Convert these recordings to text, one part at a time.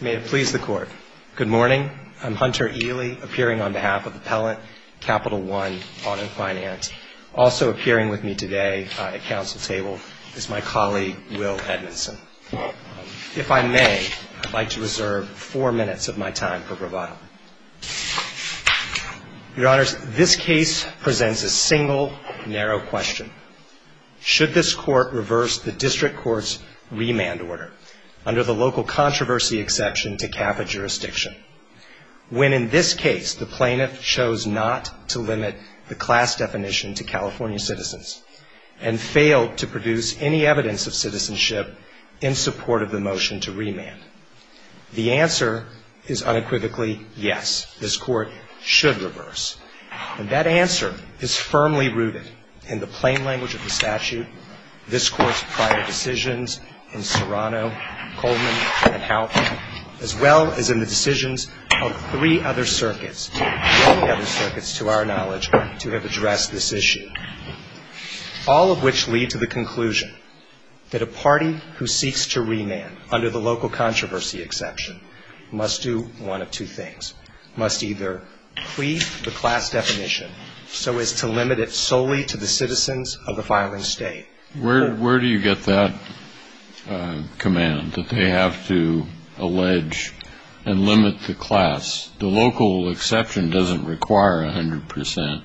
May it please the Court. Good morning. I'm Hunter Ely, appearing on behalf of Appellant Capital One Auto Finance. Also appearing with me today at council table is my colleague Will Edmondson. If I may, I'd like to reserve four minutes of my time for bravado. Your Honors, this case presents a single, narrow question. Should this Court reverse the district court's remand order, under the local controversy exception to CAFA jurisdiction, when in this case the plaintiff chose not to limit the class definition to California citizens and failed to produce any evidence of citizenship in support of the motion to remand? The answer is unequivocally yes. This Court should reverse. And that answer is firmly rooted in the plain language of the statute, this Court's prior decisions in Serrano, Coleman, and Halpin, as well as in the decisions of three other circuits, many other circuits to our knowledge, to have addressed this issue, all of which lead to the conclusion that a party who seeks to remand under the local controversy exception must do one of two things. Must either cleave the class definition so as to limit it solely to the citizens of the filing state. Where do you get that command, that they have to allege and limit the class? The local exception doesn't require 100 percent.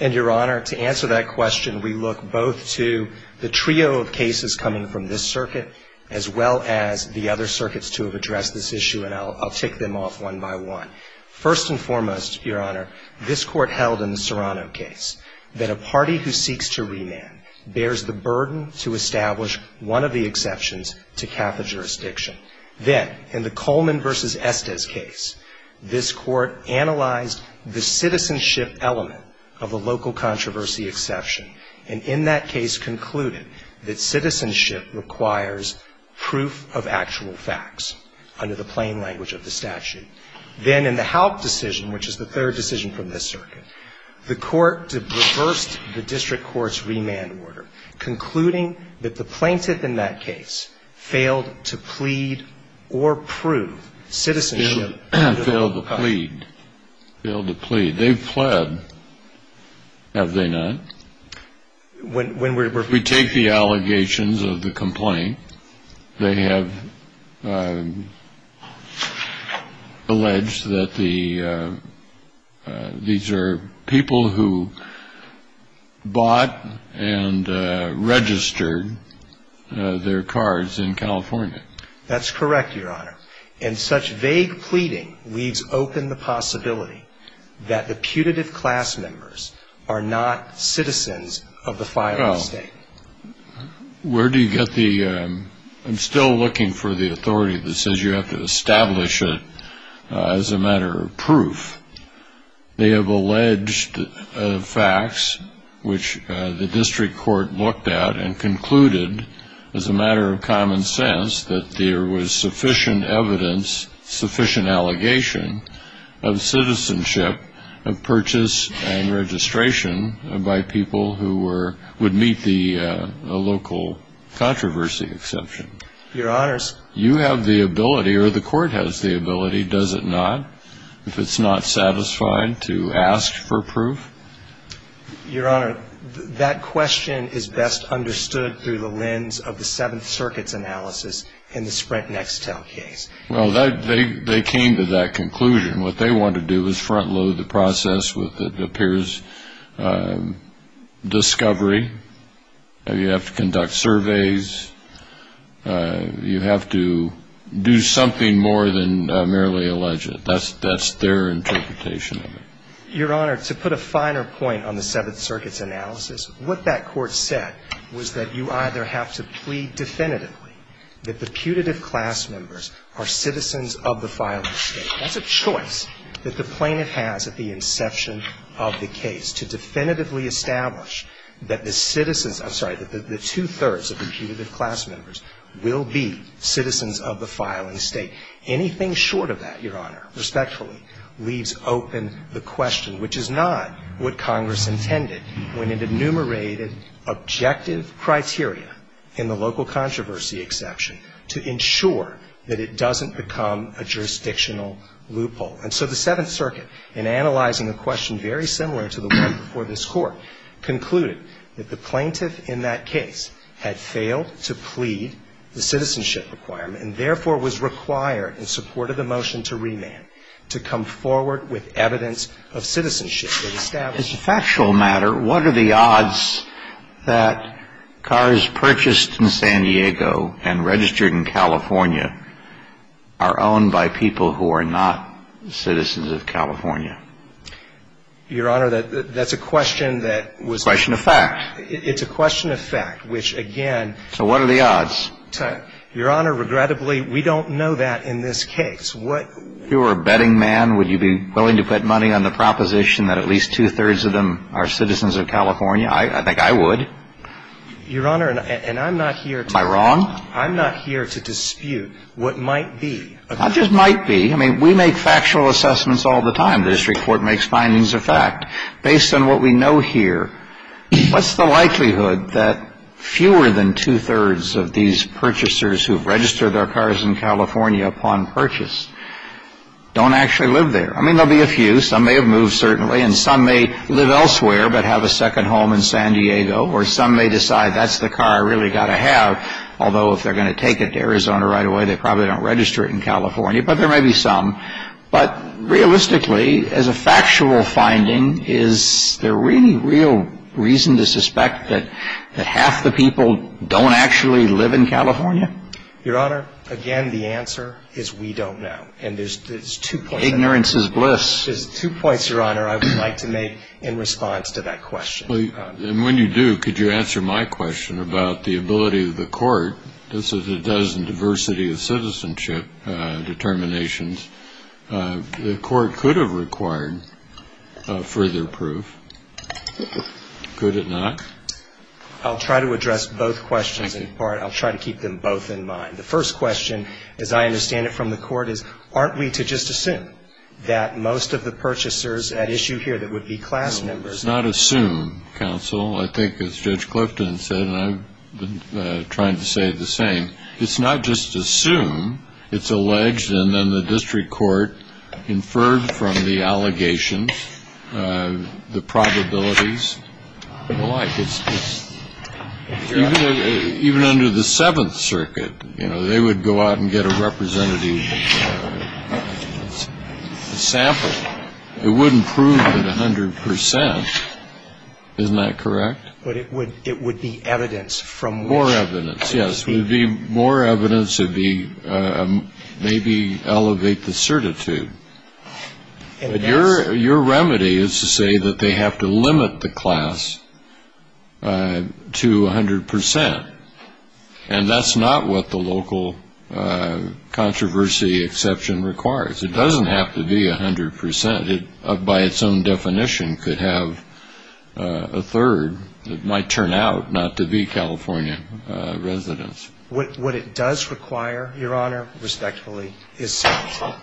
And Your Honor, to answer that question, we look both to the trio of cases coming from this circuit, as well as the other circuits to have addressed this issue, and I'll tick them off one by one. First and foremost, Your Honor, this Court held in the Serrano case that a party who seeks to remand bears the burden to establish one of the exceptions to CAFA jurisdiction. Then, in the Coleman v. Estes case, this Court analyzed the citizenship element of a local controversy exception, and in that case concluded that citizenship requires proof of actual facts under the plain language of the statute. Then, in the HALP decision, which is the third decision from this circuit, the Court reversed the district court's remand order, concluding that the plaintiff in that case failed to plead or prove citizenship. They failed to plead. They've pled. Have they not? We take the allegations of the complaint. They have alleged that the these are people who bought and registered their cars in California. That's correct, Your Honor. And such vague pleading leaves open the possibility that the putative class members are not citizens of the filing state. I'm still looking for the authority that says you have to establish it as a matter of proof. They have alleged facts, which the district court looked at and concluded, as a matter of common sense, that there was sufficient evidence, sufficient allegation, of citizenship of purchase and registration by people who would meet the local controversy exception. Your Honors. You have the ability, or the Court has the ability, does it not, if it's not satisfied to ask for proof? Your Honor, that question is best understood through the lens of the Seventh Circuit's analysis in the Sprint-Nextel case. Well, they came to that conclusion. What they want to do is front load the process with it appears discovery. You have to conduct surveys. You have to do something more than merely allege it. That's their interpretation of it. Your Honor, to put a finer point on the Seventh Circuit's analysis, what that court said was that you either have to plead definitively that the putative class members are citizens of the filing state. That's a choice that the plaintiff has at the inception of the case, to definitively establish that the citizens – I'm sorry, that the two-thirds of the putative class members will be citizens of the filing state. Anything short of that, Your Honor, respectfully, leaves open the question, which is not what the plaintiff had in mind. And so the Seventh Circuit, in analyzing the question, very similar to the one before this Court, concluded that the plaintiff in that case had failed to plead the citizenship requirement and, therefore, was required, in support of the motion to remand, to come forward with evidence of citizenship that established that the plaintiff was a citizen of the filing state. And so the question is, what are the odds that cars purchased in San Diego and registered in California are owned by people who are not citizens of California? Your Honor, that's a question that was – A question of fact. It's a question of fact, which, again – So what are the odds? Your Honor, regrettably, we don't know that in this case. What – I think I would. Your Honor, and I'm not here to – Am I wrong? I'm not here to dispute what might be. Not just might be. I mean, we make factual assessments all the time. The district court makes findings of fact. Based on what we know here, what's the likelihood that fewer than two-thirds of these purchasers who've registered their cars in California upon purchase don't actually live there? I mean, there'll be a few. Some may have moved, certainly. And some may live elsewhere, but have a second home in San Diego. Or some may decide, that's the car I really got to have, although if they're going to take it to Arizona right away, they probably don't register it in California. But there may be some. But realistically, as a factual finding, is there really real reason to suspect that half the people don't actually live in California? Your Honor, again, the answer is we don't know. And there's two points – Ignorance is bliss. There's two points, Your Honor, I would like to make in response to that question. And when you do, could you answer my question about the ability of the court – this is a dozen diversity of citizenship determinations – the court could have required further proof. Could it not? I'll try to address both questions in part. I'll try to keep them both in mind. The first question, as I understand it from the court, is aren't we to just assume that most of the purchasers at issue here that would be class members – No, it's not assume, counsel. I think as Judge Clifton said, and I've been trying to say the same, it's not just assume. It's alleged, and then the district court inferred from the allegations, the probabilities, the like. It's – even under the Seventh Circuit, you know, they would go out and get a representative to sample. It wouldn't prove it 100 percent. Isn't that correct? But it would be evidence from which – More evidence, yes. It would be more evidence. It would be maybe elevate the certitude. But your remedy is to say that they have to limit the class to 100 percent. And that's not what the local controversy exception requires. It doesn't have to be 100 percent. It, by its own definition, could have a third. It might turn out not to be California residents. What it does require, Your Honor, respectfully, is certainty.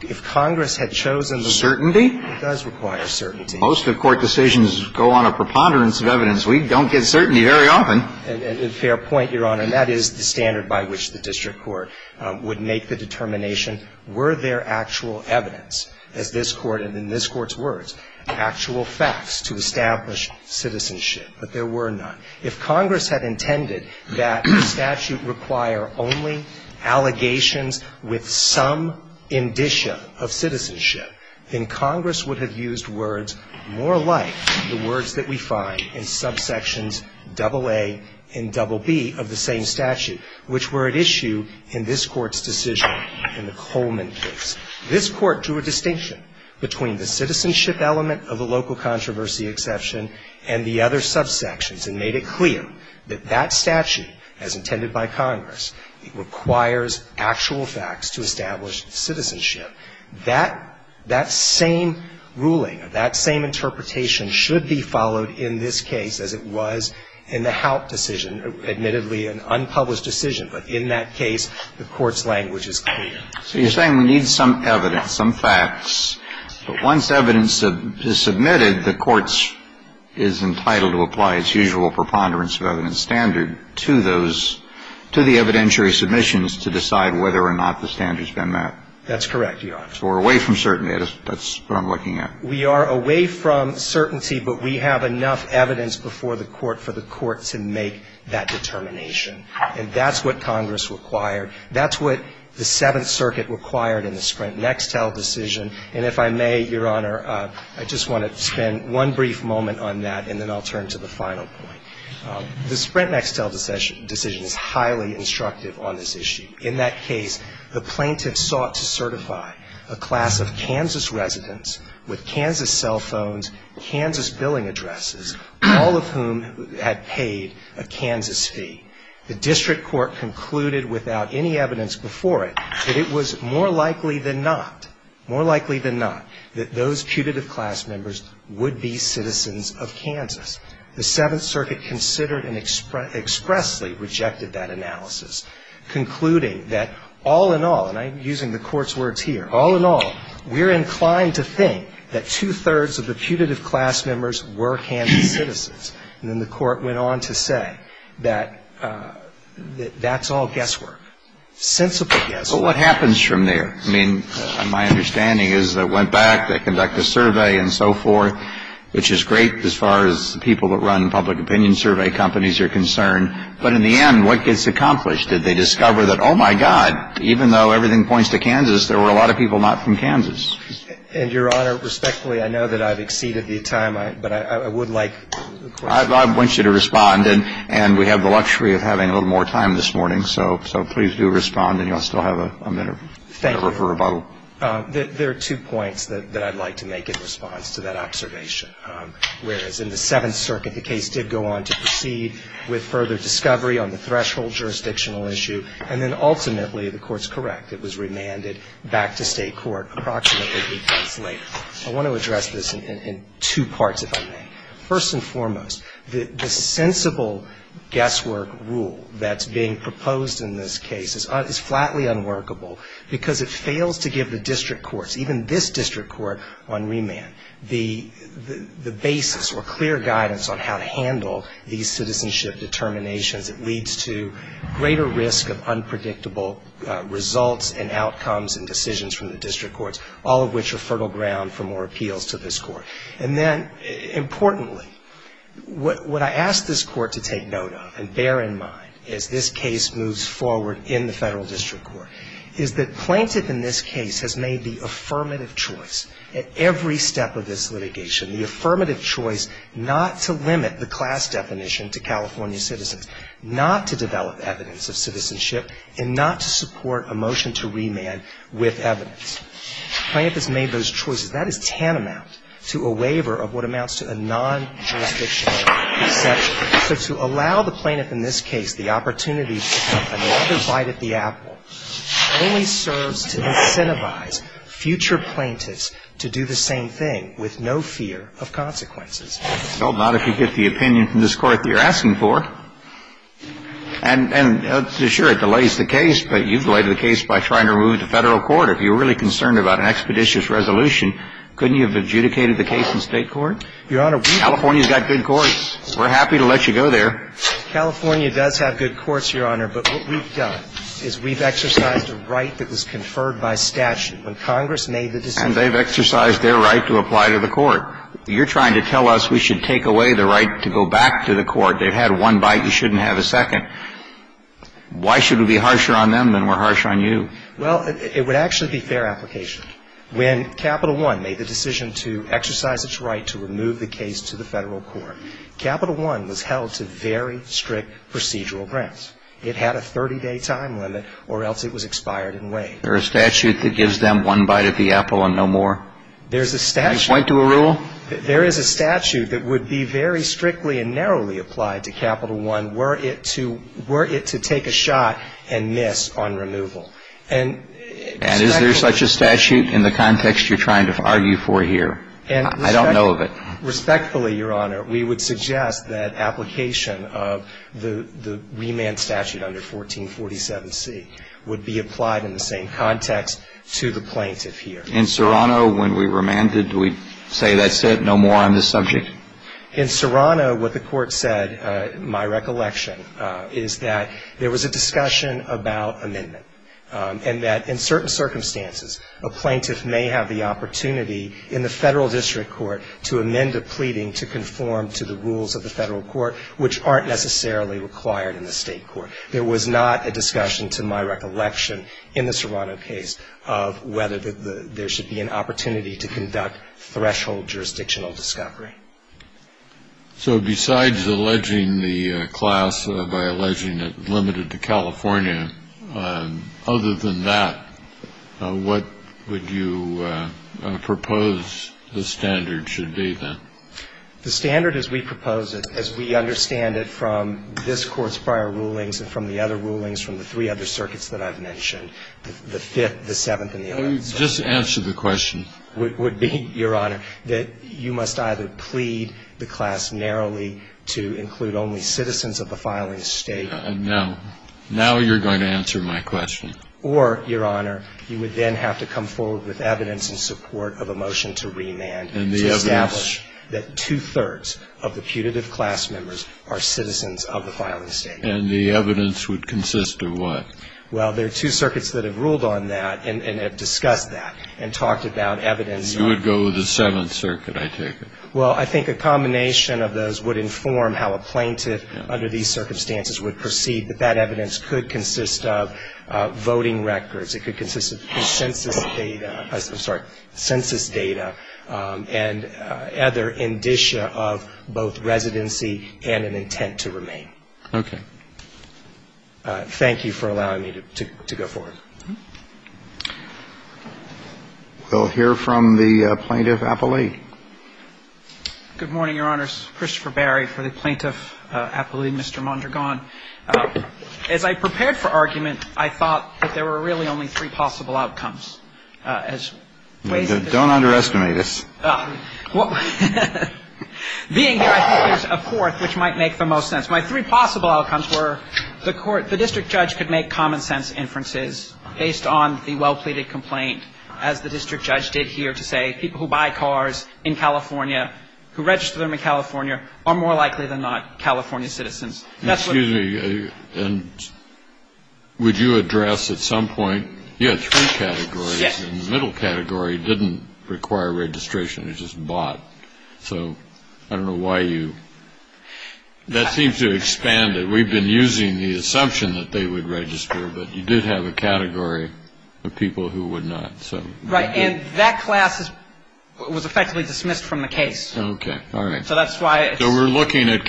If Congress had chosen – Certainty? It does require certainty. Most of court decisions go on a preponderance of evidence. We don't get certainty very often. And a fair point, Your Honor. And that is the standard by which the district court would make the determination, were there actual evidence, as this Court and in this Court's words, actual facts to establish citizenship. But there were none. If Congress had intended that the statute require only allegations with some indicia of citizenship, then Congress would have used words more like the words that we find in subsections AA and BB of the same statute, which were at issue in this Court's decision in the Coleman case. This Court drew a distinction between the citizenship element of the local controversy exception and the other subsections and made it clear that that statute, as intended by Congress, requires actual facts to establish citizenship. That same ruling, that same interpretation should be followed in this case as it was in the Haupt decision, admittedly an unpublished decision. But in that case, the Court's language is clear. So you're saying we need some evidence, some facts. But once evidence is submitted, the Court is entitled to apply its usual preponderance of evidence standard to those, to the evidentiary submissions to decide whether or not the standard's been met. That's correct, Your Honor. So we're away from certainty. That's what I'm looking at. We are away from certainty, but we have enough evidence before the Court for the Court to make that determination. And that's what Congress required. That's what the Seventh Circuit required in the Sprint-Nextel decision. And if I may, Your Honor, I just want to spend one brief moment on that, and then I'll turn to the final point. The Sprint-Nextel decision is highly instructive on this issue. In that case, the plaintiff sought to certify a class of Kansas residents with Kansas cell phones, Kansas billing addresses, all of whom had paid a Kansas fee. The district court concluded without any evidence before it that it was more likely than not, more likely than not, that those putative class members would be citizens of Kansas. The Seventh Circuit considered and expressly rejected that analysis, concluding that all in all, and I'm using the Court's words here, all in all, we're inclined to think that two-thirds of the putative class members were Kansas citizens. And then the Court went on to say that that's all guesswork, sensible guesswork. But what happens from there? I mean, my understanding is they went back, they conduct a survey and so forth, which is great as far as people that run public opinion survey companies are concerned. But in the end, what gets accomplished? Did they discover that, oh, my God, even though everything points to Kansas, there were a lot of people not from Kansas? And, Your Honor, respectfully, I know that I've exceeded the time, but I would like a question. I want you to respond, and we have the luxury of having a little more time this morning. So please do respond, and you'll still have a minute or two for rebuttal. There are two points that I'd like to make in response to that observation. Whereas in the Seventh Circuit, the case did go on to proceed with further discovery on the threshold jurisdictional issue. And then ultimately, the Court's correct. It was remanded back to state court approximately eight months later. I want to address this in two parts, if I may. First and foremost, the sensible guesswork rule that's being proposed in this case is flatly unworkable because it fails to give the district courts, even this district court, on remand. The basis or clear guidance on how to handle these citizenship determinations, it leads to greater risk of unpredictable results and outcomes and decisions from the district courts, all of which are fertile ground for more appeals to this Court. And then, importantly, what I ask this Court to take note of and bear in mind as this case moves forward in the federal district court, is that plaintiff in this case has made the affirmative choice at every step of this litigation, the affirmative choice not to limit the class definition to California citizens, not to develop evidence of citizenship, and not to support a motion to remand with evidence. Plaintiff has made those choices. That is tantamount to a waiver of what amounts to a non-jurisdictional exception. So to allow the plaintiff in this case the opportunity to come and another bite at the apple only serves to incentivize future plaintiffs to do the same thing with no fear of consequences. Well, not if you get the opinion from this Court that you're asking for. And sure, it delays the case, but you've delayed the case by trying to remove it to federal court. If you're really concerned about an expeditious resolution, couldn't you have adjudicated the case in state court? Your Honor, we've got good courts. We're happy to let you go there. California does have good courts, Your Honor, but what we've done is we've exercised a right that was conferred by statute. When Congress made the decision to remove the case to federal court, they've exercised their right to apply to the court. You're trying to tell us we should take away the right to go back to the court. They've had one bite. You shouldn't have a second. Why should it be harsher on them than we're harsher on you? Well, it would actually be fair application. When Capital One made the decision to exercise its right to remove the case to the federal court, Capital One was held to very strict procedural grounds. It had a 30-day time limit, or else it was expired and waived. There's a statute that gives them one bite of the apple and no more? There's a statute. Can I point to a rule? There is a statute that would be very strictly and narrowly applied to Capital One were it to take a shot and miss on removal. And is there such a statute in the context you're trying to argue for here? I don't know of it. Respectfully, Your Honor, we would suggest that application of the remand statute under 1447C would be applied in the same context to the plaintiff here. In Serrano, when we remanded, do we say that's it, no more on this subject? In Serrano, what the court said, my recollection, is that there was a discussion about amendment, and that in certain circumstances, a plaintiff may have the opportunity in the federal district court to amend a pleading to conform to the rules of the federal court, which aren't necessarily required in the state court. There was not a discussion, to my recollection, in the Serrano case, of whether there should be an opportunity to conduct threshold jurisdictional discovery. So besides alleging the class by alleging it limited to California, other than that, what would you propose the standard should be, then? The standard as we propose it, as we understand it from this Court's prior rulings and from the other rulings from the three other circuits that I've mentioned, the Fifth, the Seventh, and the Eighth. Just answer the question. Would be, Your Honor, that you must either plead the class narrowly to include only citizens of the filing state. Now you're going to answer my question. Or, Your Honor, you would then have to come forward with evidence in support of a motion to remand to establish that two-thirds of the putative class members are citizens of the filing state. And the evidence would consist of what? Well, there are two circuits that have ruled on that and have discussed that and talked about evidence. You would go with the Seventh Circuit, I take it. Well, I think a combination of those would inform how a plaintiff, under these circumstances, would proceed. But that evidence could consist of voting records. It could consist of census data, I'm sorry, census data and other indicia of both residency and an intent to remain. Okay. Thank you for allowing me to go forward. We'll hear from the Plaintiff Appellee. Good morning, Your Honors. Christopher Barry for the Plaintiff Appellee. Mr. Mondragon. As I prepared for argument, I thought that there were really only three possible outcomes. Don't underestimate us. Being here, I think there's a fourth which might make the most sense. My three possible outcomes were the court, the district judge could make common sense inferences based on the well-pleaded complaint, as the district judge did here to say, people who buy cars in California, who register them in California are more likely than not California citizens. Excuse me, would you address at some point, you had three categories, and the middle category didn't require registration, it was just bought. So I don't know why you, that seems to expand it. We've been using the assumption that they would register, but you did have a category of people who would not. Right, and that class was effectively dismissed from the case. Okay, all right. So that's why it's- So we're looking at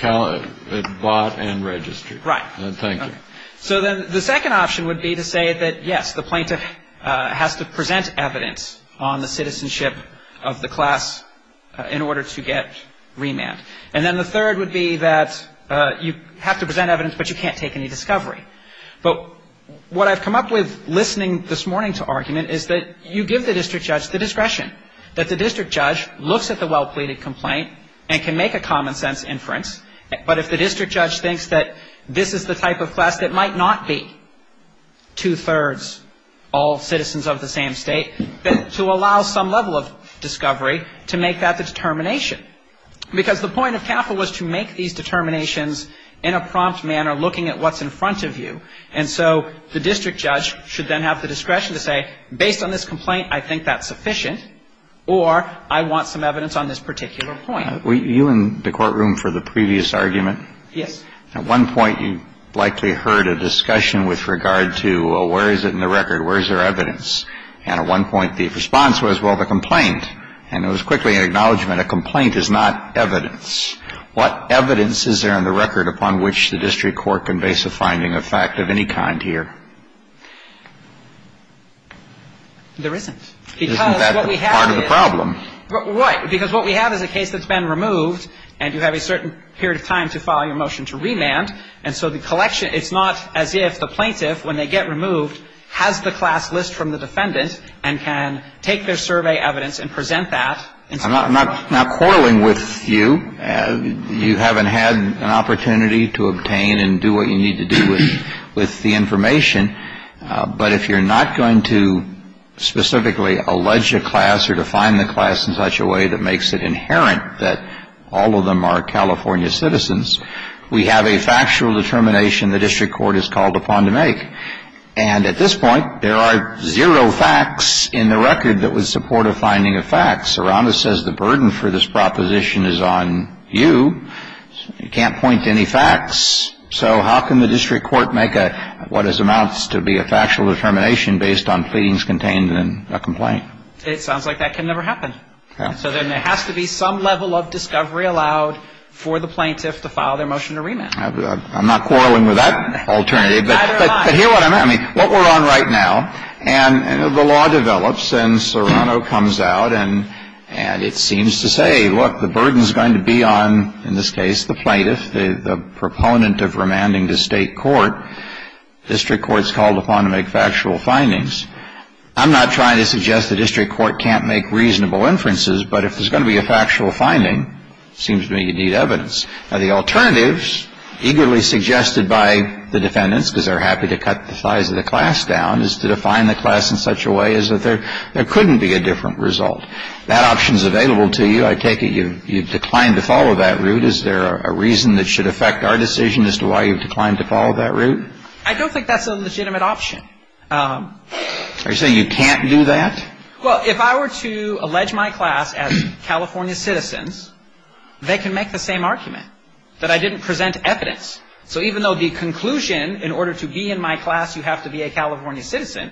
bought and registered. Right. Thank you. So then the second option would be to say that, yes, the plaintiff has to present evidence on the citizenship of the class in order to get remand. And then the third would be that you have to present evidence, but you can't take any discovery. But what I've come up with listening this morning to argument is that you give the district judge the discretion, that the district judge looks at the well-pleaded complaint and can make a common-sense inference. But if the district judge thinks that this is the type of class that might not be two-thirds all citizens of the same state, then to allow some level of discovery to make that determination. Because the point of TAPA was to make these determinations in a prompt manner, looking at what's in front of you. And so the district judge should then have the discretion to say, based on this complaint, I think that's sufficient, or I want some evidence on this particular point. Were you in the courtroom for the previous argument? Yes. At one point, you likely heard a discussion with regard to, well, where is it in the record? Where is there evidence? And at one point, the response was, well, the complaint. And it was quickly an acknowledgment, a complaint is not evidence. What evidence is there in the record upon which the district court can base a finding of fact of any kind here? There isn't. Because what we have is a case that's been removed, and you have a certain period of time to file your motion to remand. And so the collection – it's not as if the plaintiff, when they get removed, has the class list from the defendant and can take their survey evidence and present that. I'm not quarreling with you. You haven't had an opportunity to obtain and do what you need to do with the information. But if you're not going to specifically allege a class or to find the class in such a way that makes it inherent that all of them are California citizens, we have a factual determination the district court is called upon to make. And at this point, there are zero facts in the record that would support a finding of facts. Serrano says the burden for this proposition is on you. You can't point to any facts. So how can the district court make what amounts to be a factual determination based on findings contained in a complaint? It sounds like that can never happen. So then there has to be some level of discovery allowed for the plaintiff to file their motion to remand. I'm not quarreling with that alternative. Neither am I. But hear what I mean. What we're on right now, and the law develops, and Serrano comes out, and it seems to say, look, the burden's going to be on, in this case, the plaintiff, the proponent of remanding to state court. District court's called upon to make factual findings. I'm not trying to suggest the district court can't make reasonable inferences. But if there's going to be a factual finding, it seems to me you need evidence. Now, the alternatives, eagerly suggested by the defendants, because they're happy to cut the size of the class down, is to define the class in such a way as that there couldn't be a different result. That option's available to you. I take it you've declined to follow that route. Is there a reason that should affect our decision as to why you've declined to follow that route? I don't think that's a legitimate option. Are you saying you can't do that? Well, if I were to allege my class as California citizens, they can make the same argument, that I didn't present evidence. So even though the conclusion, in order to be in my class, you have to be a California citizen,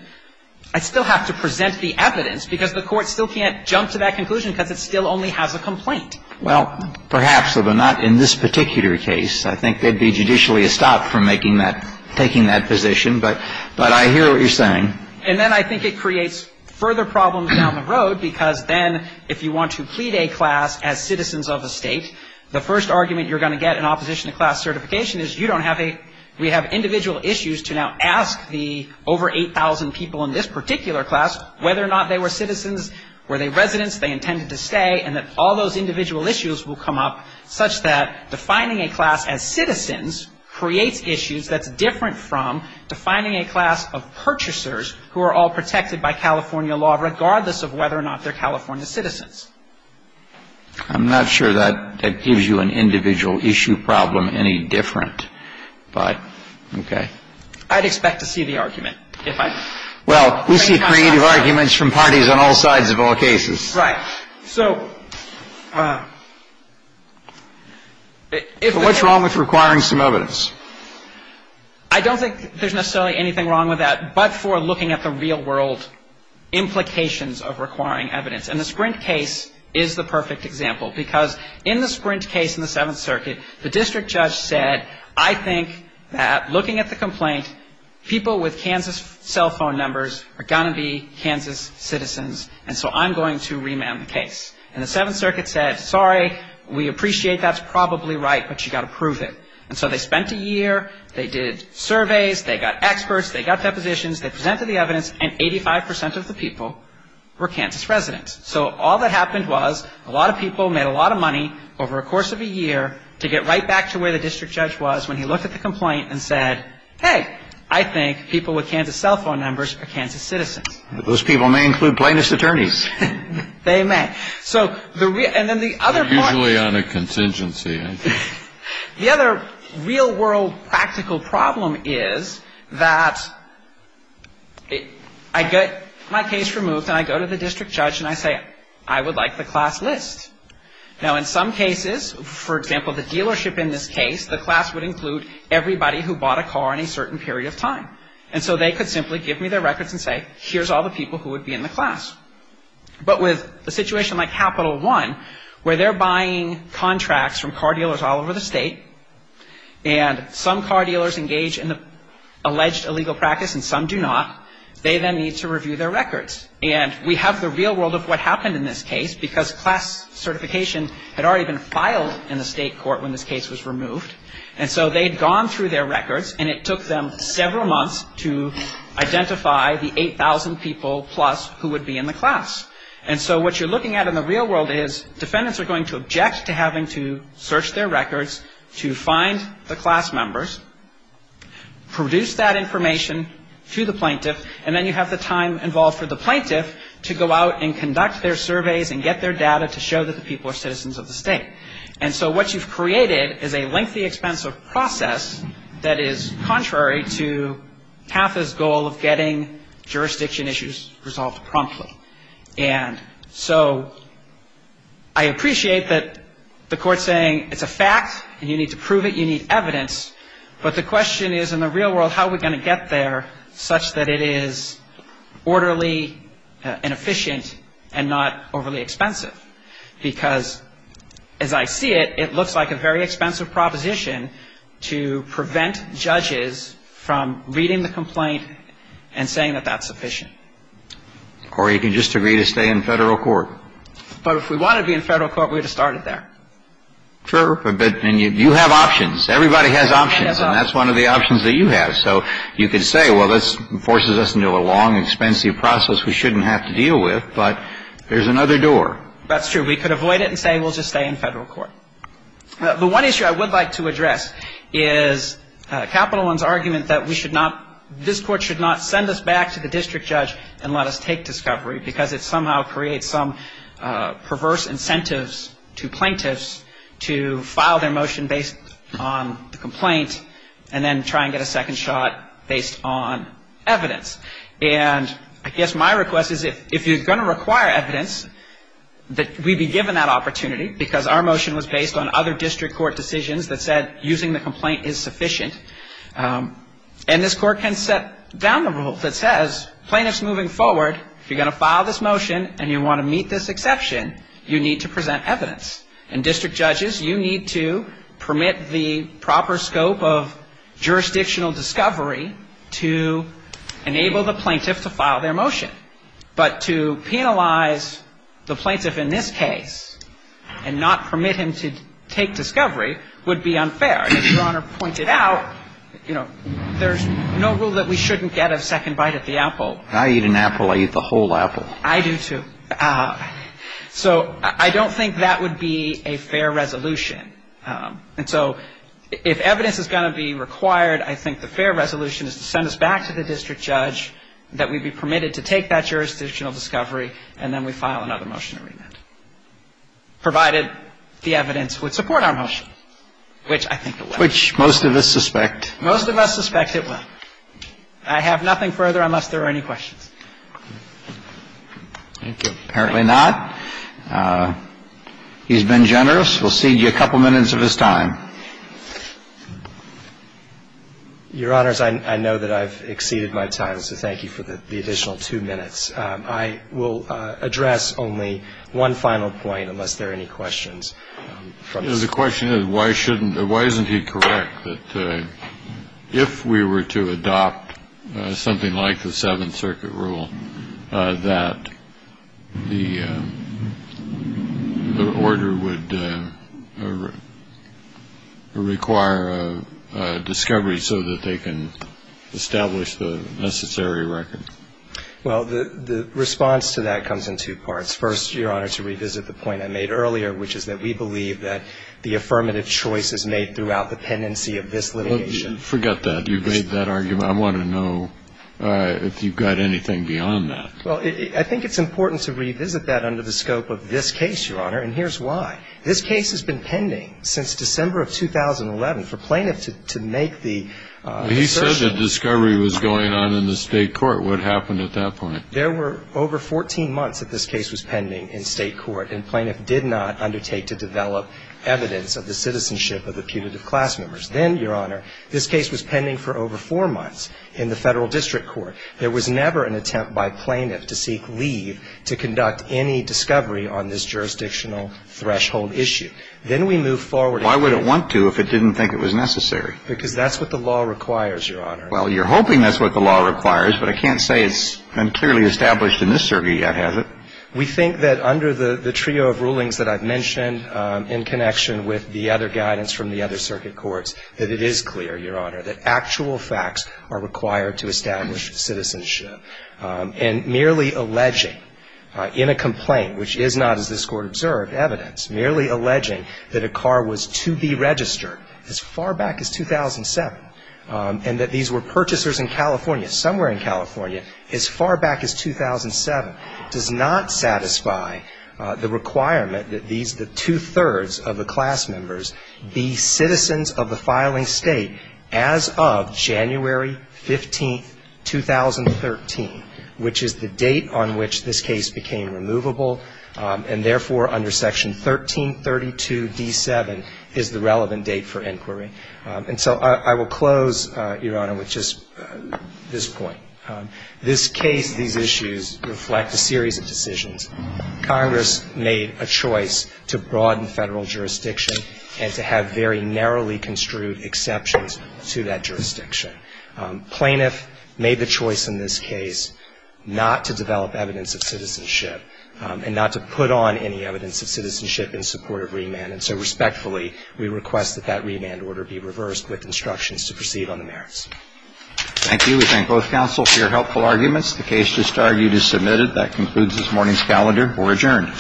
I still have to present the evidence, because the court still can't jump to that conclusion because it still only has a complaint. Well, perhaps, but not in this particular case. I think they'd be judicially estopped from making that – taking that position. But I hear what you're saying. And then I think it creates further problems down the road, because then if you want to plead a class as citizens of a State, the first argument you're going to get in opposition to class certification is you don't have a – we have individual issues to now ask the over 8,000 people in this particular class whether or not they were citizens, were they residents, they intended to stay, and that all those individual issues will come up such that defining a class as citizens creates issues that's different from defining a class of purchasers who are all protected by California law, regardless of whether or not they're California citizens. I'm not sure that that gives you an individual issue problem any different, but, okay. I'd expect to see the argument, if I could. Well, we see creative arguments from parties on all sides of all cases. Right. So, if the case – So what's wrong with requiring some evidence? I don't think there's necessarily anything wrong with that, but for looking at the real world implications of requiring evidence. And the Sprint case is the perfect example, because in the Sprint case in the Seventh Circuit, the district judge said, I think that looking at the complaint, people with Kansas cell phone numbers are going to be Kansas citizens, and so I'm going to remand the case. And the Seventh Circuit said, sorry, we appreciate that's probably right, but you've got to prove it. And so they spent a year, they did surveys, they got experts, they got depositions, they the people were Kansas residents. So all that happened was a lot of people made a lot of money over a course of a year to get right back to where the district judge was when he looked at the complaint and said, hey, I think people with Kansas cell phone numbers are Kansas citizens. Those people may include plaintiff's attorneys. They may. So the – and then the other part – They're usually on a contingency, aren't they? The other real world practical problem is that I get my case removed and I go to the district judge and I say, I would like the class list. Now in some cases, for example, the dealership in this case, the class would include everybody who bought a car in a certain period of time. And so they could simply give me their records and say, here's all the people who would be in the class. But with a situation like Capital One, where they're buying contracts from car dealers all over the state, and some car dealers engage in the alleged illegal practice and some do not, they then need to review their records. And we have the real world of what happened in this case because class certification had already been filed in the state court when this case was removed. And so they'd gone through their records and it took them several months to identify the 8,000 people plus who would be in the class. And so what you're looking at in the real world is defendants are going to object to having to search their records to find the class members, produce that information to the plaintiff, and then you have the time involved for the plaintiff to go out and conduct their surveys and get their data to show that the people are citizens of the state. And so what you've created is a lengthy, expensive process that is contrary to Tatha's goal of getting jurisdiction issues resolved promptly. And so I appreciate that the court's saying it's a fact and you need to prove it, you need evidence, but the question is in the real world, how are we going to get there such that it is orderly and efficient and not overly expensive? Because as I see it, it looks like a very expensive proposition to prevent judges from reading the complaint and saying that that's sufficient. Or you can just agree to stay in federal court. But if we want to be in federal court, we would have started there. Sure. But you have options. Everybody has options. And that's one of the options that you have. So you could say, well, this forces us into a long, expensive process we shouldn't have to deal with, but there's another door. That's true. We could avoid it and say we'll just stay in federal court. The one issue I would like to address is Capital One's argument that we should not, this court should not send us back to the district judge and let us take discovery because it somehow creates some perverse incentives to plaintiffs to file their motion based on the complaint and then try and get a second shot based on evidence. And I guess my request is if you're going to require evidence, that we be given that opportunity because our motion was based on other district court decisions that said using the complaint is sufficient. And this court can set down a rule that says, plaintiffs moving forward, if you're going to file this motion and you want to meet this exception, you need to present evidence. And district judges, you need to permit the proper scope of jurisdictional discovery to enable the plaintiff to file their motion. But to penalize the plaintiff in this case and not permit him to take discovery would be unfair. As Your Honor pointed out, there's no rule that we shouldn't get a second bite at the apple. If I eat an apple, I eat the whole apple. I do, too. So I don't think that would be a fair resolution. And so if evidence is going to be required, I think the fair resolution is to send us back to the district judge, that we be permitted to take that jurisdictional discovery, and then we file another motion to remand, provided the evidence would support our motion, which I think it will. Which most of us suspect. Most of us suspect it will. I have nothing further unless there are any questions. Thank you. Apparently not. He's been generous. We'll cede you a couple minutes of his time. Your Honors, I know that I've exceeded my time, so thank you for the additional two minutes. I will address only one final point, unless there are any questions. The question is, why isn't he correct that if we were to adopt something like the 7th Circuit rule, that the order would require a discovery so that they can establish the necessary record? Well, the response to that comes in two parts. First, Your Honor, to revisit the point I made earlier, which is that we believe that the affirmative choice is made throughout the pendency of this litigation. Forget that. You've made that argument. I want to know if you've got anything beyond that. Well, I think it's important to revisit that under the scope of this case, Your Honor. And here's why. This case has been pending since December of 2011 for plaintiffs to make the assertion. If the discovery was going on in the state court, what happened at that point? There were over 14 months that this case was pending in state court, and plaintiff did not undertake to develop evidence of the citizenship of the punitive class members. Then, Your Honor, this case was pending for over four months in the federal district court. There was never an attempt by plaintiff to seek leave to conduct any discovery on this jurisdictional threshold issue. Then we move forward. Why would it want to if it didn't think it was necessary? Because that's what the law requires, Your Honor. Well, you're hoping that's what the law requires, but I can't say it's been clearly established in this circuit yet, has it? We think that under the trio of rulings that I've mentioned in connection with the other guidance from the other circuit courts, that it is clear, Your Honor, that actual facts are required to establish citizenship. And merely alleging in a complaint, which is not, as this Court observed, evidence, merely alleging that a car was to be registered as far back as 2007, and that these were purchasers in California, somewhere in California, as far back as 2007, does not satisfy the requirement that these, the two-thirds of the class members, be citizens of the filing state as of January 15, 2013, which is the date on which this case became removable. And therefore, under Section 1332d7 is the relevant date for inquiry. And so I will close, Your Honor, with just this point. This case, these issues, reflect a series of decisions. Congress made a choice to broaden Federal jurisdiction and to have very narrowly construed exceptions to that jurisdiction. Plaintiff made the choice in this case not to develop evidence of citizenship and not to put on any evidence of citizenship in support of remand. And so respectfully, we request that that remand order be reversed with instructions to proceed on the merits. Thank you. We thank both counsel for your helpful arguments. The case just argued is submitted. That concludes this morning's calendar. We're adjourned.